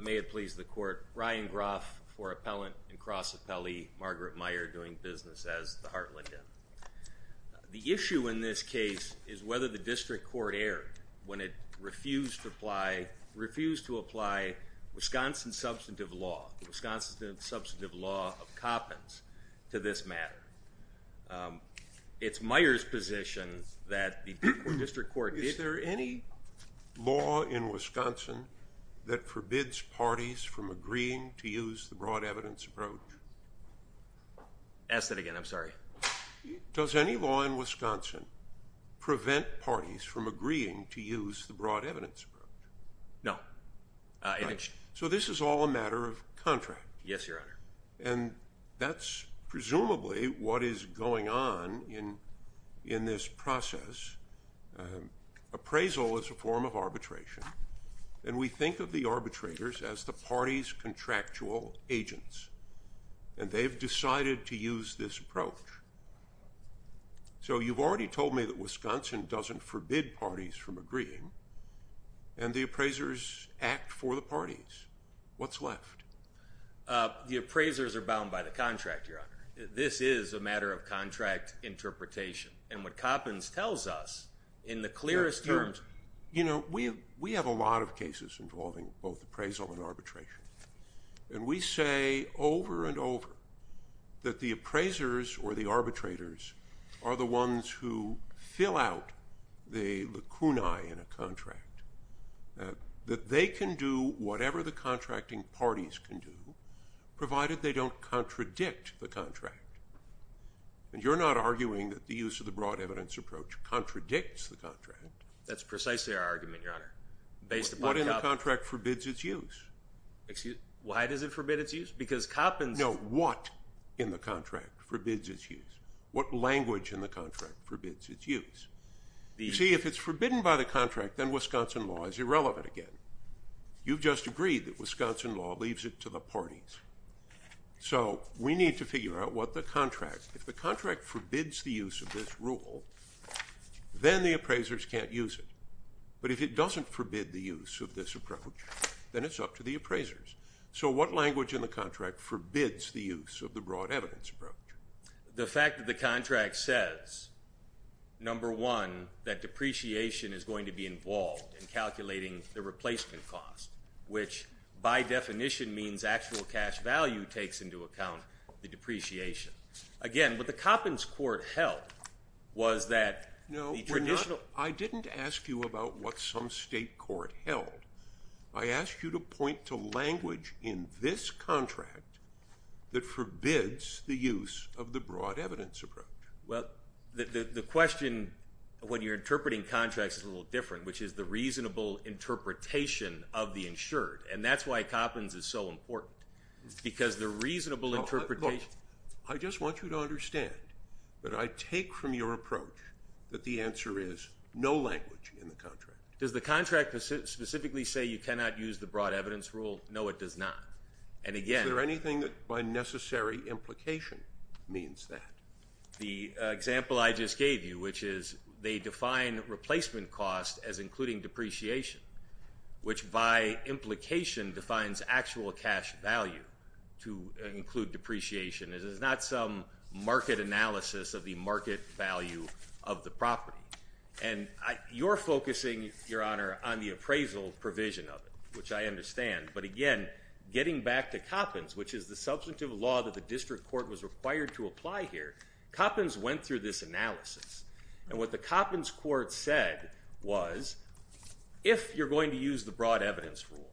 May it please the Court, Ryan Groff for Appellant and Cross Appellee, Margrit Meier doing business as the Hartland Inn. The issue in this case is whether the District Court erred when it refused to apply Wisconsin substantive law, the Wisconsin substantive law of Coppins, to this matter. It's Meier's position that the District Court did... Is there any law in Wisconsin that forbids parties from agreeing to use the broad evidence approach? Ask that again. I'm sorry. Does any law in Wisconsin prevent parties from agreeing to use the broad evidence approach? No. So this is all a matter of contract? Yes, Your Honor. And that's presumably what is going on in this process. Appraisal is a form of arbitration, and we think of the arbitrators as the party's contractual agents, and they've decided to use this approach. So you've already told me that Wisconsin doesn't forbid parties from agreeing, and the appraisers act for the parties. What's left? The appraisers are bound by the contract, Your Honor. This is a matter of contract interpretation, and what Coppins tells us in the clearest terms... You know, we have a lot of cases involving both appraisal and arbitration, and we say over and over that the appraisers or the arbitrators are the ones who fill out the lacunae in a contract, that they can do whatever the contracting parties can do, provided they don't contradict the contract. And you're not arguing that the use of the broad evidence approach contradicts the contract. That's precisely our argument, Your Honor. What in the contract forbids its use? Why does it forbid its use? Because Coppins... No, what in the contract forbids its use? What language in the contract forbids its use? You see, if it's forbidden by the contract, then Wisconsin law is irrelevant again. You've just agreed that Wisconsin law leaves it to the parties. So we need to figure out what the contract... If the contract forbids the use of this rule, then the appraisers can't use it. But if it doesn't forbid the use of this approach, then it's up to the appraisers. So what language in the contract forbids the use of the broad evidence approach? The fact that the contract says, number one, that depreciation is going to be involved in calculating the replacement cost, which by definition means actual cash value takes into account the depreciation. Again, what the Coppins court held was that the traditional... No, we're not... I didn't ask you about what some state court held. I asked you to point to language in this contract that forbids the use of the broad evidence approach. Well, the question when you're interpreting contracts is a little different, which is the reasonable interpretation of the insured. And that's why Coppins is so important, because the reasonable interpretation... Look, I just want you to understand that I take from your approach that the answer is no language in the contract. Does the contract specifically say you cannot use the broad evidence rule? No, it does not. And again... Is there anything that by necessary implication means that? The example I just gave you, which is they define replacement cost as including depreciation, which by implication defines actual cash value to include depreciation. It is not some market analysis of the market value of the property. And you're focusing, Your Honor, on the appraisal provision of it, which I understand. But again, getting back to Coppins, which is the substantive law that the district court was required to apply here, Coppins went through this analysis. And what the Coppins court said was if you're going to use the broad evidence rule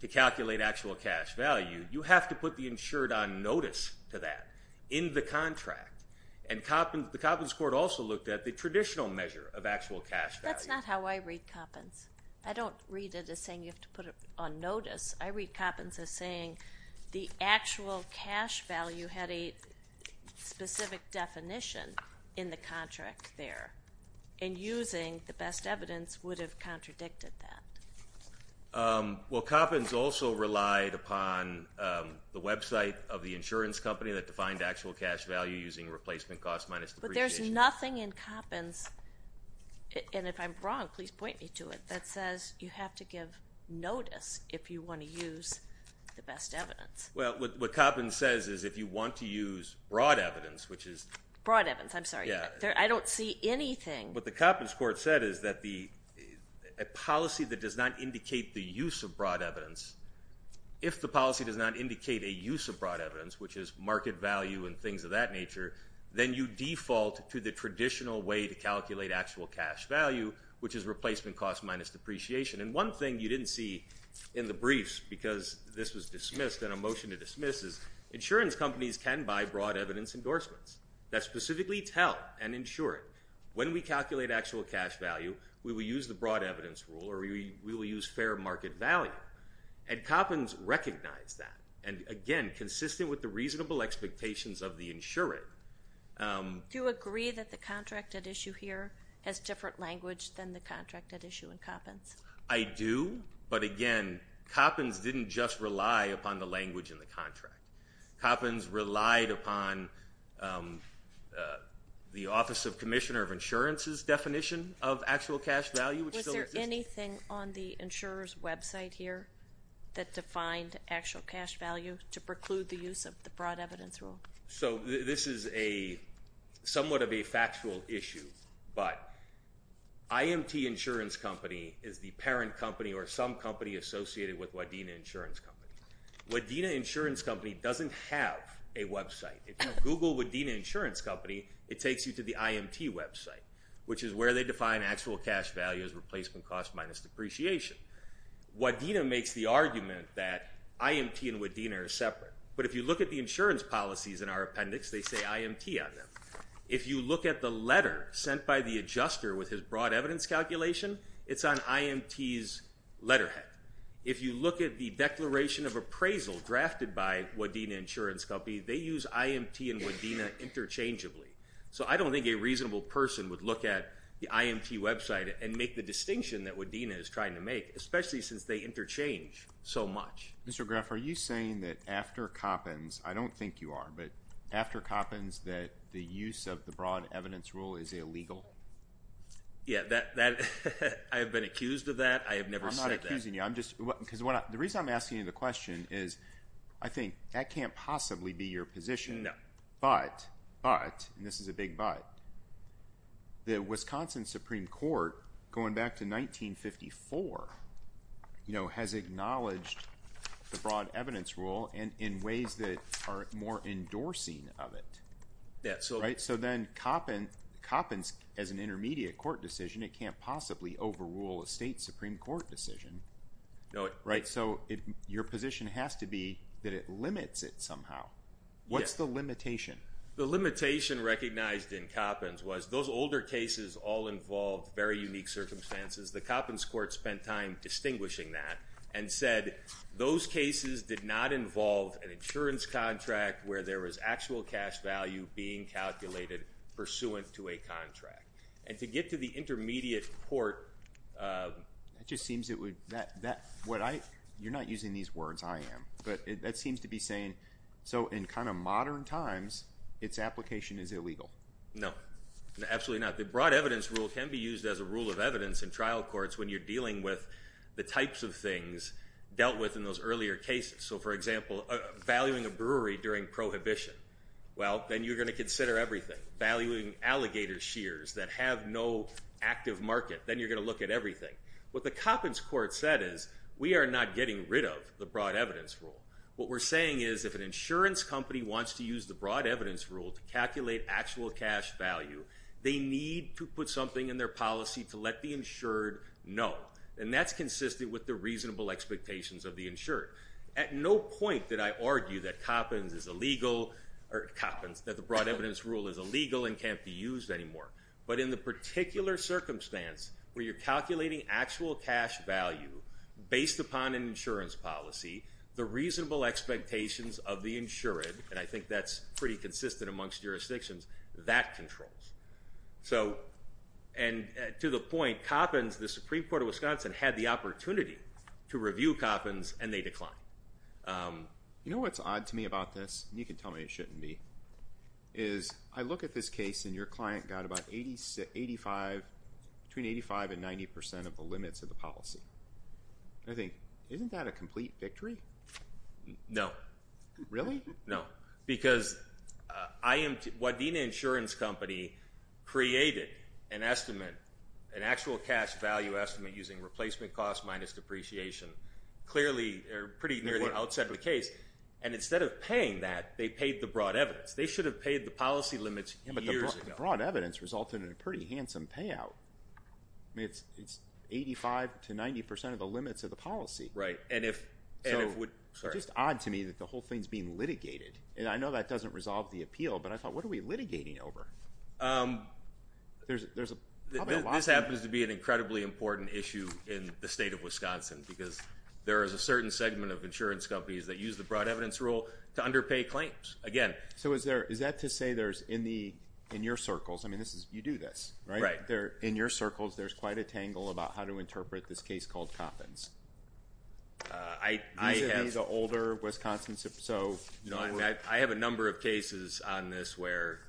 to calculate actual cash value, you have to put the insured on notice to that in the contract. And the Coppins court also looked at the traditional measure of actual cash value. That's not how I read Coppins. I don't read it as saying you have to put it on notice. I read Coppins as saying the actual cash value had a specific definition in the contract there. And using the best evidence would have contradicted that. Well, Coppins also relied upon the website of the insurance company that defined actual cash value using replacement cost minus depreciation. But there's nothing in Coppins, and if I'm wrong, please point me to it, that says you have to give notice if you want to use the best evidence. Well, what Coppins says is if you want to use broad evidence, which is ‑‑ Broad evidence. I'm sorry. I don't see anything. What the Coppins court said is that a policy that does not indicate the use of broad evidence, if the policy does not indicate a use of broad evidence, which is market value and things of that nature, then you default to the traditional way to calculate actual cash value, which is replacement cost minus depreciation. And one thing you didn't see in the briefs because this was dismissed and a motion to dismiss is insurance companies can buy broad evidence endorsements that specifically tell an insurer when we calculate actual cash value we will use the broad evidence rule or we will use fair market value. And Coppins recognized that. And, again, consistent with the reasonable expectations of the insurer. Do you agree that the contract at issue here has different language than the contract at issue in Coppins? I do. But, again, Coppins didn't just rely upon the language in the contract. Coppins relied upon the Office of Commissioner of Insurance's definition of actual cash value. Was there anything on the insurer's website here that defined actual cash value to preclude the use of the broad evidence rule? So this is somewhat of a factual issue, but IMT Insurance Company is the parent company or some company associated with Wadena Insurance Company. Wadena Insurance Company doesn't have a website. If you Google Wadena Insurance Company, it takes you to the IMT website, which is where they define actual cash value as replacement cost minus depreciation. Wadena makes the argument that IMT and Wadena are separate. But if you look at the insurance policies in our appendix, they say IMT on them. If you look at the letter sent by the adjuster with his broad evidence calculation, it's on IMT's letterhead. If you look at the declaration of appraisal drafted by Wadena Insurance Company, they use IMT and Wadena interchangeably. So I don't think a reasonable person would look at the IMT website and make the distinction that Wadena is trying to make, especially since they interchange so much. Mr. Graff, are you saying that after Coppins, I don't think you are, but after Coppins that the use of the broad evidence rule is illegal? Yeah, I have been accused of that. I have never said that. I'm not accusing you. The reason I'm asking you the question is I think that can't possibly be your position. No. But, and this is a big but, the Wisconsin Supreme Court, going back to 1954, has acknowledged the broad evidence rule in ways that are more endorsing of it. Right? So then Coppins, as an intermediate court decision, it can't possibly overrule a state Supreme Court decision. No. Right? So your position has to be that it limits it somehow. What's the limitation? The limitation recognized in Coppins was those older cases all involved very unique circumstances. The Coppins court spent time distinguishing that and said those cases did not involve an insurance contract where there was actual cash value being calculated pursuant to a contract. And to get to the intermediate court. That just seems it would, that, what I, you're not using these words, I am, but that seems to be saying so in kind of modern times its application is illegal. No. Absolutely not. The broad evidence rule can be used as a rule of evidence in trial courts when you're dealing with the types of things dealt with in those earlier cases. So, for example, valuing a brewery during prohibition. Well, then you're going to consider everything. Valuing alligator shears that have no active market. Then you're going to look at everything. What the Coppins court said is we are not getting rid of the broad evidence rule. What we're saying is if an insurance company wants to use the broad evidence rule to calculate actual cash value, they need to put something in their policy to let the insured know. And that's consistent with the reasonable expectations of the insured. At no point did I argue that Coppins is illegal, or Coppins, that the broad evidence rule is illegal and can't be used anymore. But in the particular circumstance where you're calculating actual cash value based upon an insurance policy, the reasonable expectations of the insured, and I think that's pretty consistent amongst jurisdictions, that controls. So, and to the point, Coppins, the Supreme Court of Wisconsin, had the opportunity to review Coppins, and they declined. You know what's odd to me about this, and you can tell me it shouldn't be, is I look at this case and your client got about 85, between 85 and 90 percent of the limits of the policy. I think, isn't that a complete victory? No. Really? No. Because Wadena Insurance Company created an estimate, an actual cash value estimate, using replacement cost minus depreciation, clearly, pretty near the outset of the case, and instead of paying that, they paid the broad evidence. They should have paid the policy limits years ago. Yeah, but the broad evidence resulted in a pretty handsome payout. I mean, it's 85 to 90 percent of the limits of the policy. Right. It's just odd to me that the whole thing is being litigated, and I know that doesn't resolve the appeal, but I thought, what are we litigating over? There's probably a lot there. This happens to be an incredibly important issue in the state of Wisconsin because there is a certain segment of insurance companies that use the broad evidence rule to underpay claims. Again. So is that to say there's, in your circles, I mean, you do this, right? Right. I think there, in your circles, there's quite a tangle about how to interpret this case called Coppins. I have. Visibly the older Wisconsin, so. No, I have a number of cases on this where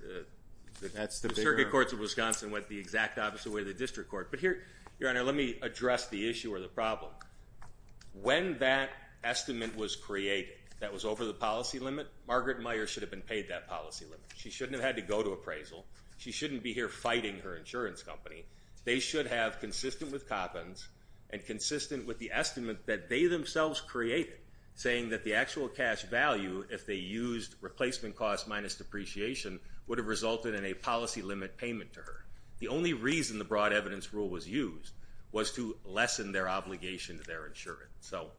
the circuit courts of Wisconsin went the exact opposite way the district court. But here, Your Honor, let me address the issue or the problem. When that estimate was created that was over the policy limit, Margaret Meijer should have been paid that policy limit. She shouldn't have had to go to appraisal. She shouldn't be here fighting her insurance company. They should have, consistent with Coppins and consistent with the estimate that they themselves created, saying that the actual cash value, if they used replacement costs minus depreciation, would have resulted in a policy limit payment to her. The only reason the broad evidence rule was used was to lessen their obligation to their insurance. So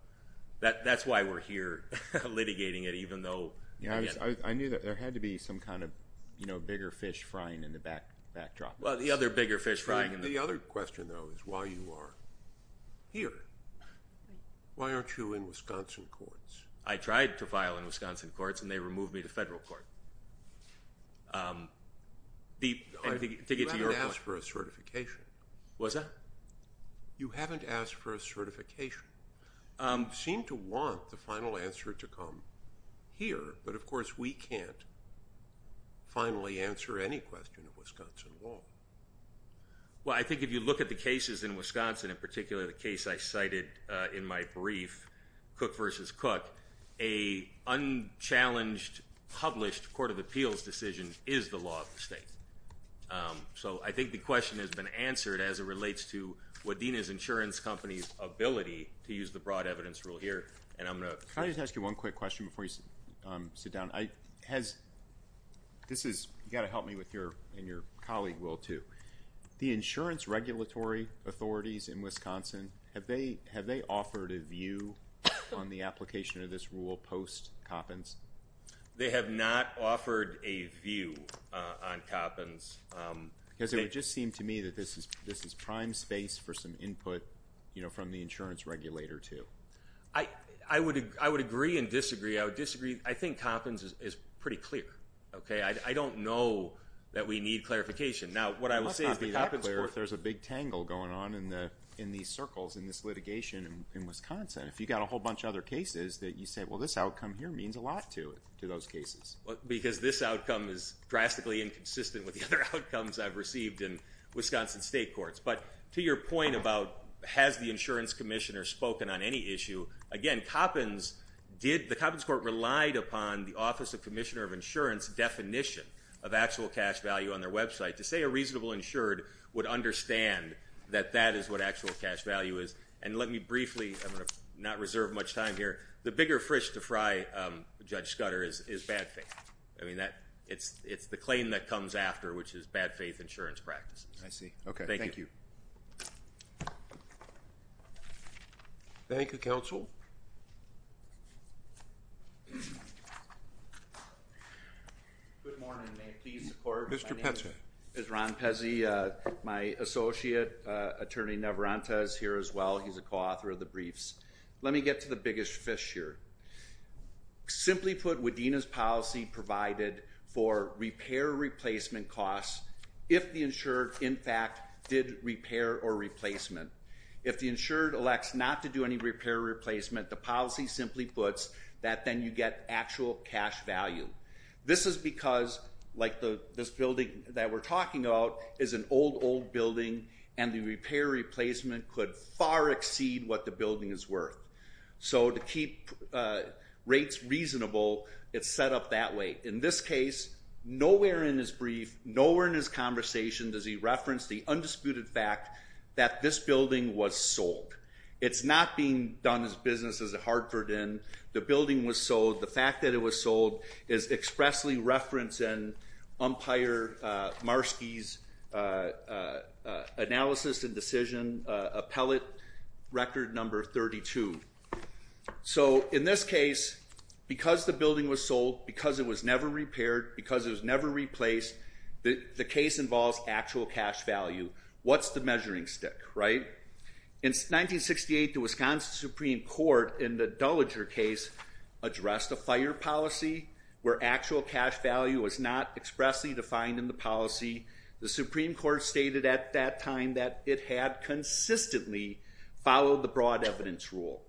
that's why we're here litigating it, even though. I knew that there had to be some kind of bigger fish frying in the backdrop. Well, the other bigger fish frying. The other question, though, is why you are here. Why aren't you in Wisconsin courts? I tried to file in Wisconsin courts, and they removed me to federal court. You haven't asked for a certification. What's that? You haven't asked for a certification. You seem to want the final answer to come here, but, of course, we can't finally answer any question of Wisconsin law. Well, I think if you look at the cases in Wisconsin, in particular the case I cited in my brief, Cook v. Cook, an unchallenged, published court of appeals decision is the law of the state. So I think the question has been answered as it relates to Wadena's insurance company's ability to use the broad evidence rule here. And I'm going to ask you one quick question before you sit down. You've got to help me and your colleague will, too. The insurance regulatory authorities in Wisconsin, have they offered a view on the application of this rule post-Koppins? They have not offered a view on Koppins. Because it would just seem to me that this is prime space for some input, you know, from the insurance regulator, too. I would agree and disagree. I would disagree. I think Koppins is pretty clear. Okay? I don't know that we need clarification. Now, what I would say is the Koppins court. It would be unclear if there's a big tangle going on in these circles in this litigation in Wisconsin. If you've got a whole bunch of other cases that you say, well, this outcome here means a lot to those cases. Because this outcome is drastically inconsistent with the other outcomes I've received in Wisconsin state courts. But to your point about has the insurance commissioner spoken on any issue, again, Koppins did. The Koppins court relied upon the office of commissioner of insurance definition of actual cash value on their website. To say a reasonable insured would understand that that is what actual cash value is. And let me briefly, I'm going to not reserve much time here. The bigger fish to fry, Judge Scudder, is bad faith. I mean, it's the claim that comes after, which is bad faith insurance practices. I see. Okay. Thank you. Thank you, counsel. Good morning. May it please the court. My name is Ron Pezzi. My associate, attorney Navarrete, is here as well. He's a co-author of the briefs. Let me get to the biggest fish here. Simply put, Widena's policy provided for repair replacement costs if the insured, in fact, did repair or replacement. If the insured elects not to do any repair or replacement, the policy simply puts that then you get actual cash value. This is because, like this building that we're talking about, is an old, old building, and the repair or replacement could far exceed what the building is worth. So to keep rates reasonable, it's set up that way. In this case, nowhere in his brief, nowhere in his conversation does he reference the undisputed fact that this building was sold. It's not being done as business as a Hartford Inn. The building was sold. The fact that it was sold is expressly referenced in Umpire Marski's analysis and decision appellate record number 32. So in this case, because the building was sold, because it was never repaired, because it was never replaced, the case involves actual cash value. What's the measuring stick, right? In 1968, the Wisconsin Supreme Court, in the Duliger case, addressed a fire policy where actual cash value was not expressly defined in the policy. The Supreme Court stated at that time that it had consistently followed the broad evidence rule.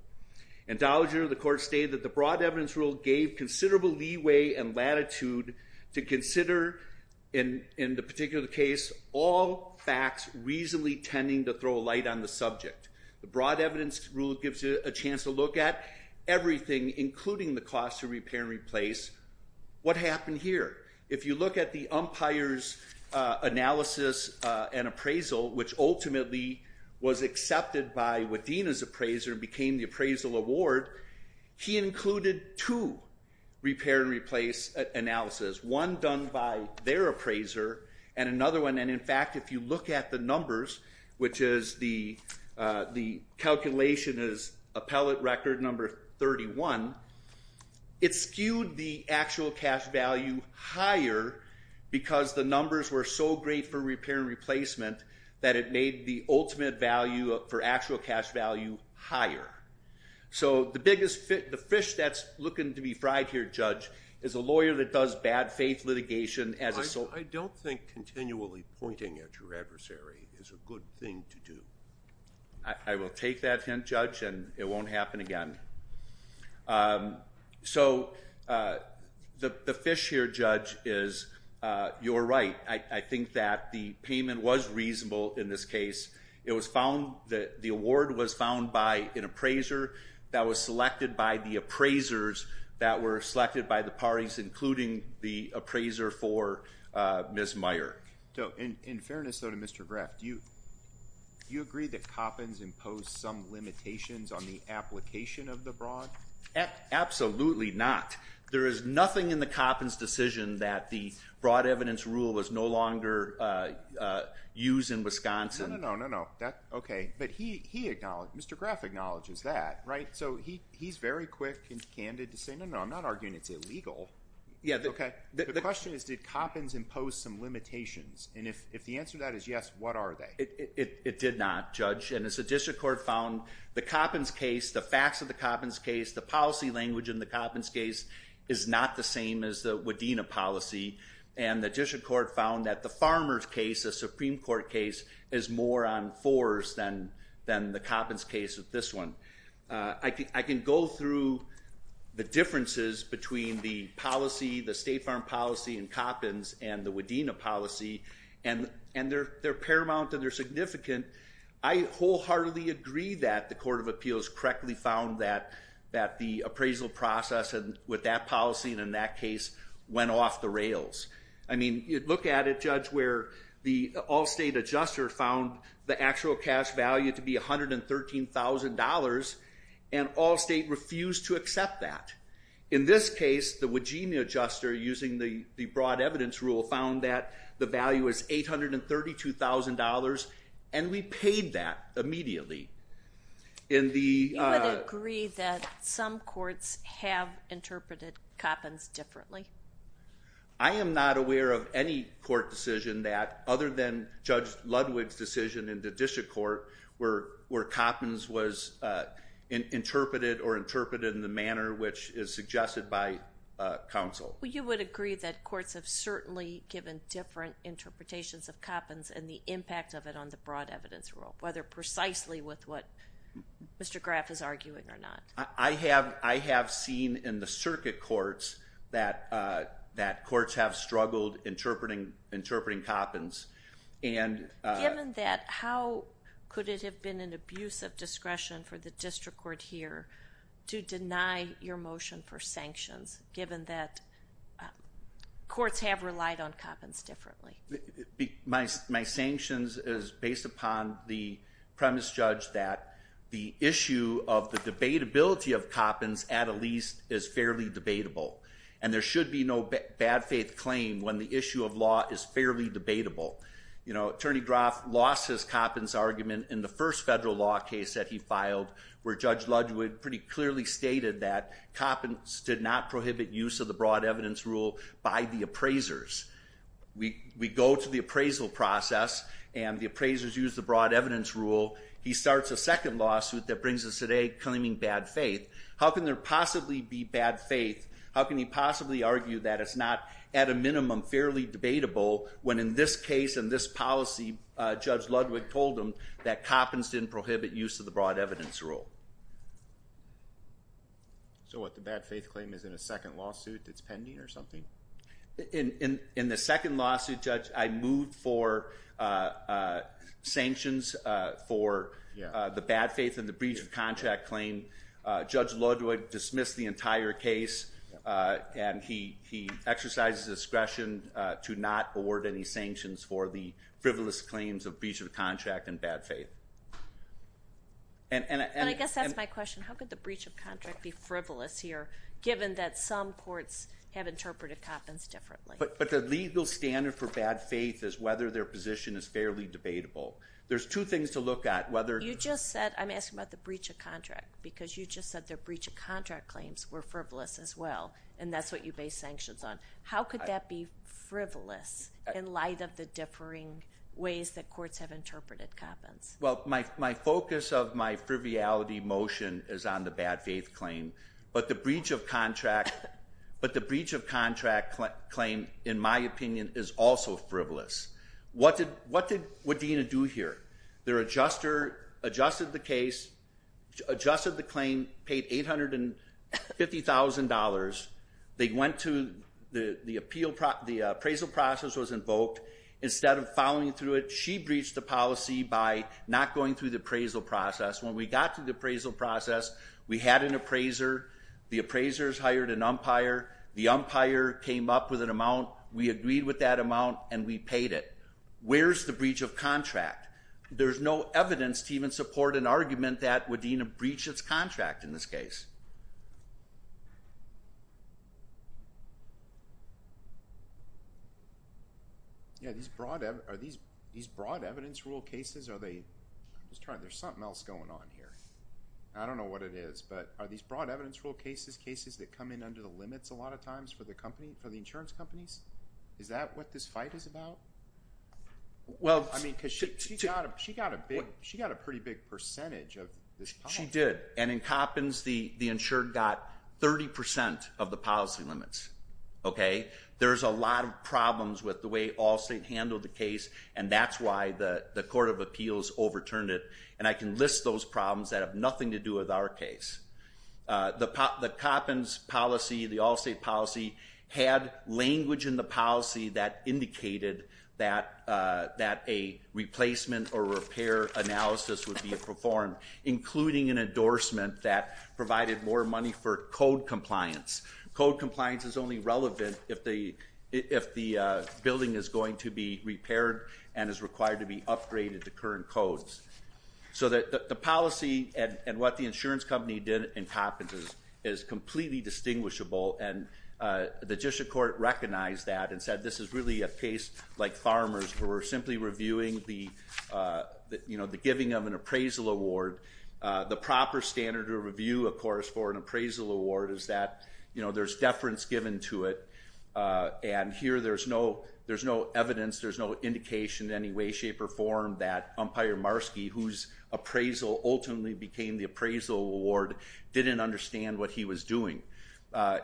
In Duliger, the court stated that the broad evidence rule gave considerable leeway and latitude to consider, in the particular case, all facts reasonably tending to throw a light on the subject. The broad evidence rule gives you a chance to look at everything, including the cost of repair and replace. What happened here? If you look at the umpire's analysis and appraisal, which ultimately was accepted by Wadena's appraiser and became the appraisal award, he included two repair and replace analyses, one done by their appraiser and another one. In fact, if you look at the numbers, which is the calculation is appellate record number 31, it skewed the actual cash value higher because the numbers were so great for repair and replacement that it made the ultimate value for actual cash value higher. So the fish that's looking to be fried here, Judge, is a lawyer that does bad faith litigation. I don't think continually pointing at your adversary is a good thing to do. I will take that hint, Judge, and it won't happen again. So the fish here, Judge, is you're right. I think that the payment was reasonable in this case. The award was found by an appraiser that was selected by the appraisers that were selected by the parties, including the appraiser for Ms. Meyer. In fairness, though, to Mr. Graff, do you agree that Coppins imposed some limitations on the application of the broad? Absolutely not. There is nothing in the Coppins decision that the broad evidence rule was no longer used in Wisconsin. No, no, no, no. Okay. But he acknowledged, Mr. Graff acknowledges that, right? So he's very quick and candid to say, no, no, I'm not arguing it's illegal. Okay. The question is, did Coppins impose some limitations? And if the answer to that is yes, what are they? It did not, Judge. And as the district court found, the Coppins case, the facts of the Coppins case, the policy language in the Coppins case is not the same as the Wadena policy. And the district court found that the farmer's case, the Supreme Court case, is more on fours than the Coppins case with this one. I can go through the differences between the policy, the state farm policy in Coppins, and the Wadena policy, and they're paramount and they're significant. I wholeheartedly agree that the court of appeals correctly found that the appraisal process with that policy and in that case went off the rails. I mean, look at it, Judge, where the all-state adjuster found the actual cash value to be $113,000, and all-state refused to accept that. In this case, the Wadena adjuster, using the broad evidence rule, found that the value is $832,000, and we paid that immediately. You would agree that some courts have interpreted Coppins differently? I am not aware of any court decision that, other than Judge Ludwig's decision in the district court, where Coppins was interpreted or interpreted in the manner which is suggested by counsel. Well, you would agree that courts have certainly given different interpretations of Coppins and the impact of it on the broad evidence rule, whether precisely with what Mr. Graff is arguing or not. I have seen in the circuit courts that courts have struggled interpreting Coppins. Given that, how could it have been an abuse of discretion for the district court here to deny your motion for sanctions, given that courts have relied on Coppins differently? My sanctions is based upon the premise, Judge, that the issue of the debatability of Coppins, at least, is fairly debatable, and there should be no bad faith claim when the issue of law is fairly debatable. Attorney Graff lost his Coppins argument in the first federal law case that he filed, where Judge Ludwig pretty clearly stated that Coppins did not prohibit use of the broad evidence rule by the appraisers. We go to the appraisal process, and the appraisers use the broad evidence rule. He starts a second lawsuit that brings us today, claiming bad faith. How can there possibly be bad faith? How can he possibly argue that it's not, at a minimum, fairly debatable, when in this case and this policy, Judge Ludwig told him that Coppins didn't prohibit use of the broad evidence rule? So what, the bad faith claim is in a second lawsuit that's pending or something? In the second lawsuit, Judge, I moved for sanctions for the bad faith and the breach of contract claim. Judge Ludwig dismissed the entire case, and he exercises discretion to not award any sanctions for the frivolous claims of breach of contract and bad faith. And I guess that's my question. How could the breach of contract be frivolous here, given that some courts have interpreted Coppins differently? But the legal standard for bad faith is whether their position is fairly debatable. There's two things to look at, whether- You just said, I'm asking about the breach of contract, because you just said the breach of contract claims were frivolous as well, and that's what you base sanctions on. How could that be frivolous in light of the differing ways that courts have interpreted Coppins? Well, my focus of my frivolity motion is on the bad faith claim, but the breach of contract claim, in my opinion, is also frivolous. What did Dena do here? Their adjuster adjusted the case, adjusted the claim, paid $850,000. They went to the appraisal process was invoked. Instead of following through it, she breached the policy by not going through the appraisal process. When we got to the appraisal process, we had an appraiser. The appraisers hired an umpire. The umpire came up with an amount. We agreed with that amount, and we paid it. Where's the breach of contract? There's no evidence to even support an argument that Dena breached its contract in this case. Are these broad evidence rule cases? There's something else going on here. I don't know what it is, but are these broad evidence rule cases, cases that come in under the limits a lot of times for the insurance companies? Is that what this fight is about? She got a pretty big percentage of this policy. She did, and in Coppins, the insured got 30% of the policy limits. There's a lot of problems with the way Allstate handled the case, and that's why the Court of Appeals overturned it, and I can list those problems that have nothing to do with our case. The Coppins policy, the Allstate policy, had language in the policy that indicated that a replacement or repair analysis would be performed, including an endorsement that provided more money for code compliance. Code compliance is only relevant if the building is going to be repaired and is required to be upgraded to current codes. So the policy and what the insurance company did in Coppins is completely distinguishable, and the district court recognized that and said this is really a case like Farmers where we're simply reviewing the giving of an appraisal award. The proper standard of review, of course, for an appraisal award is that there's deference given to it, and here there's no evidence, there's no indication in any way, shape, or form that Umpire Marski, whose appraisal ultimately became the appraisal award, didn't understand what he was doing.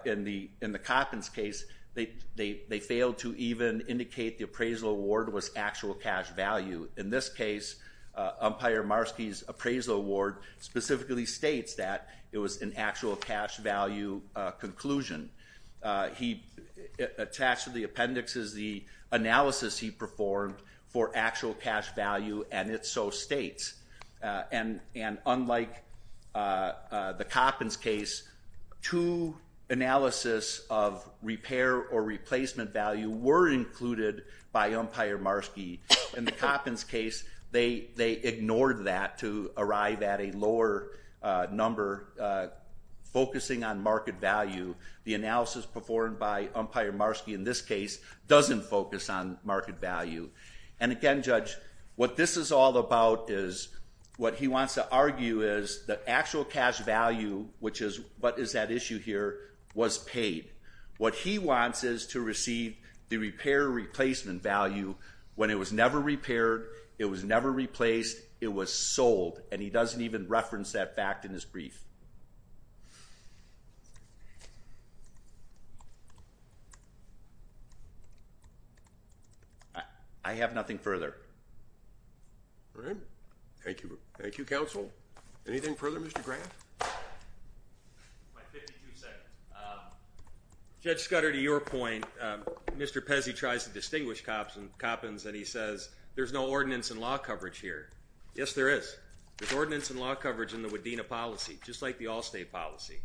In the Coppins case, they failed to even indicate the appraisal award was actual cash value. In this case, Umpire Marski's appraisal award specifically states that it was an actual cash value conclusion. He attached to the appendix is the analysis he performed for actual cash value, and it so states. And unlike the Coppins case, two analysis of repair or replacement value were included by Umpire Marski. In the Coppins case, they ignored that to arrive at a lower number focusing on market value. The analysis performed by Umpire Marski in this case doesn't focus on market value. And again, Judge, what this is all about is what he wants to argue is the actual cash value, which is what is at issue here, was paid. What he wants is to receive the repair or replacement value when it was never repaired, it was never replaced, it was sold. And he doesn't even reference that fact in his brief. I have nothing further. All right. Thank you. Thank you, Counsel. Anything further, Mr. Grant? My 52 seconds. Judge Scudder, to your point, Mr. Pezzi tries to distinguish Coppins and he says there's no ordinance and law coverage here. Yes, there is. There's ordinance and law coverage in the Wadena policy, just like the Allstate policy.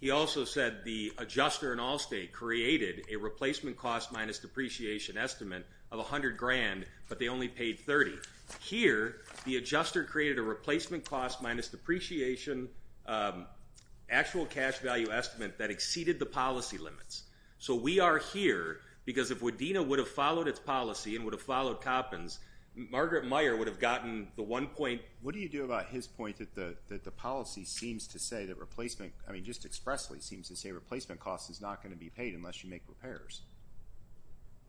He also said the adjuster in Allstate created a replacement cost minus depreciation estimate of $100,000, but they only paid $30,000. Here, the adjuster created a replacement cost minus depreciation actual cash value estimate that exceeded the policy limits. So we are here because if Wadena would have followed its policy and would have followed Coppins, Margaret Meyer would have gotten the one point. What do you do about his point that the policy seems to say that replacement, I mean just expressly seems to say replacement cost is not going to be paid unless you make repairs?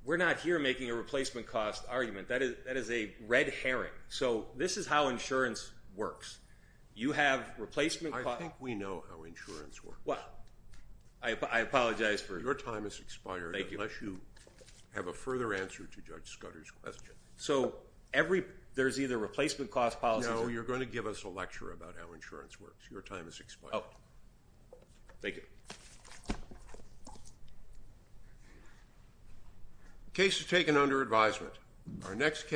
We're not here making a replacement cost argument. That is a red herring. So this is how insurance works. You have replacement cost. I think we know how insurance works. Well, I apologize for. Your time has expired. Thank you. Unless you have a further answer to Judge Scudder's question. So there's either replacement cost policy. No, you're going to give us a lecture about how insurance works. Your time has expired. Oh, thank you. Case is taken under advisement. Our next case.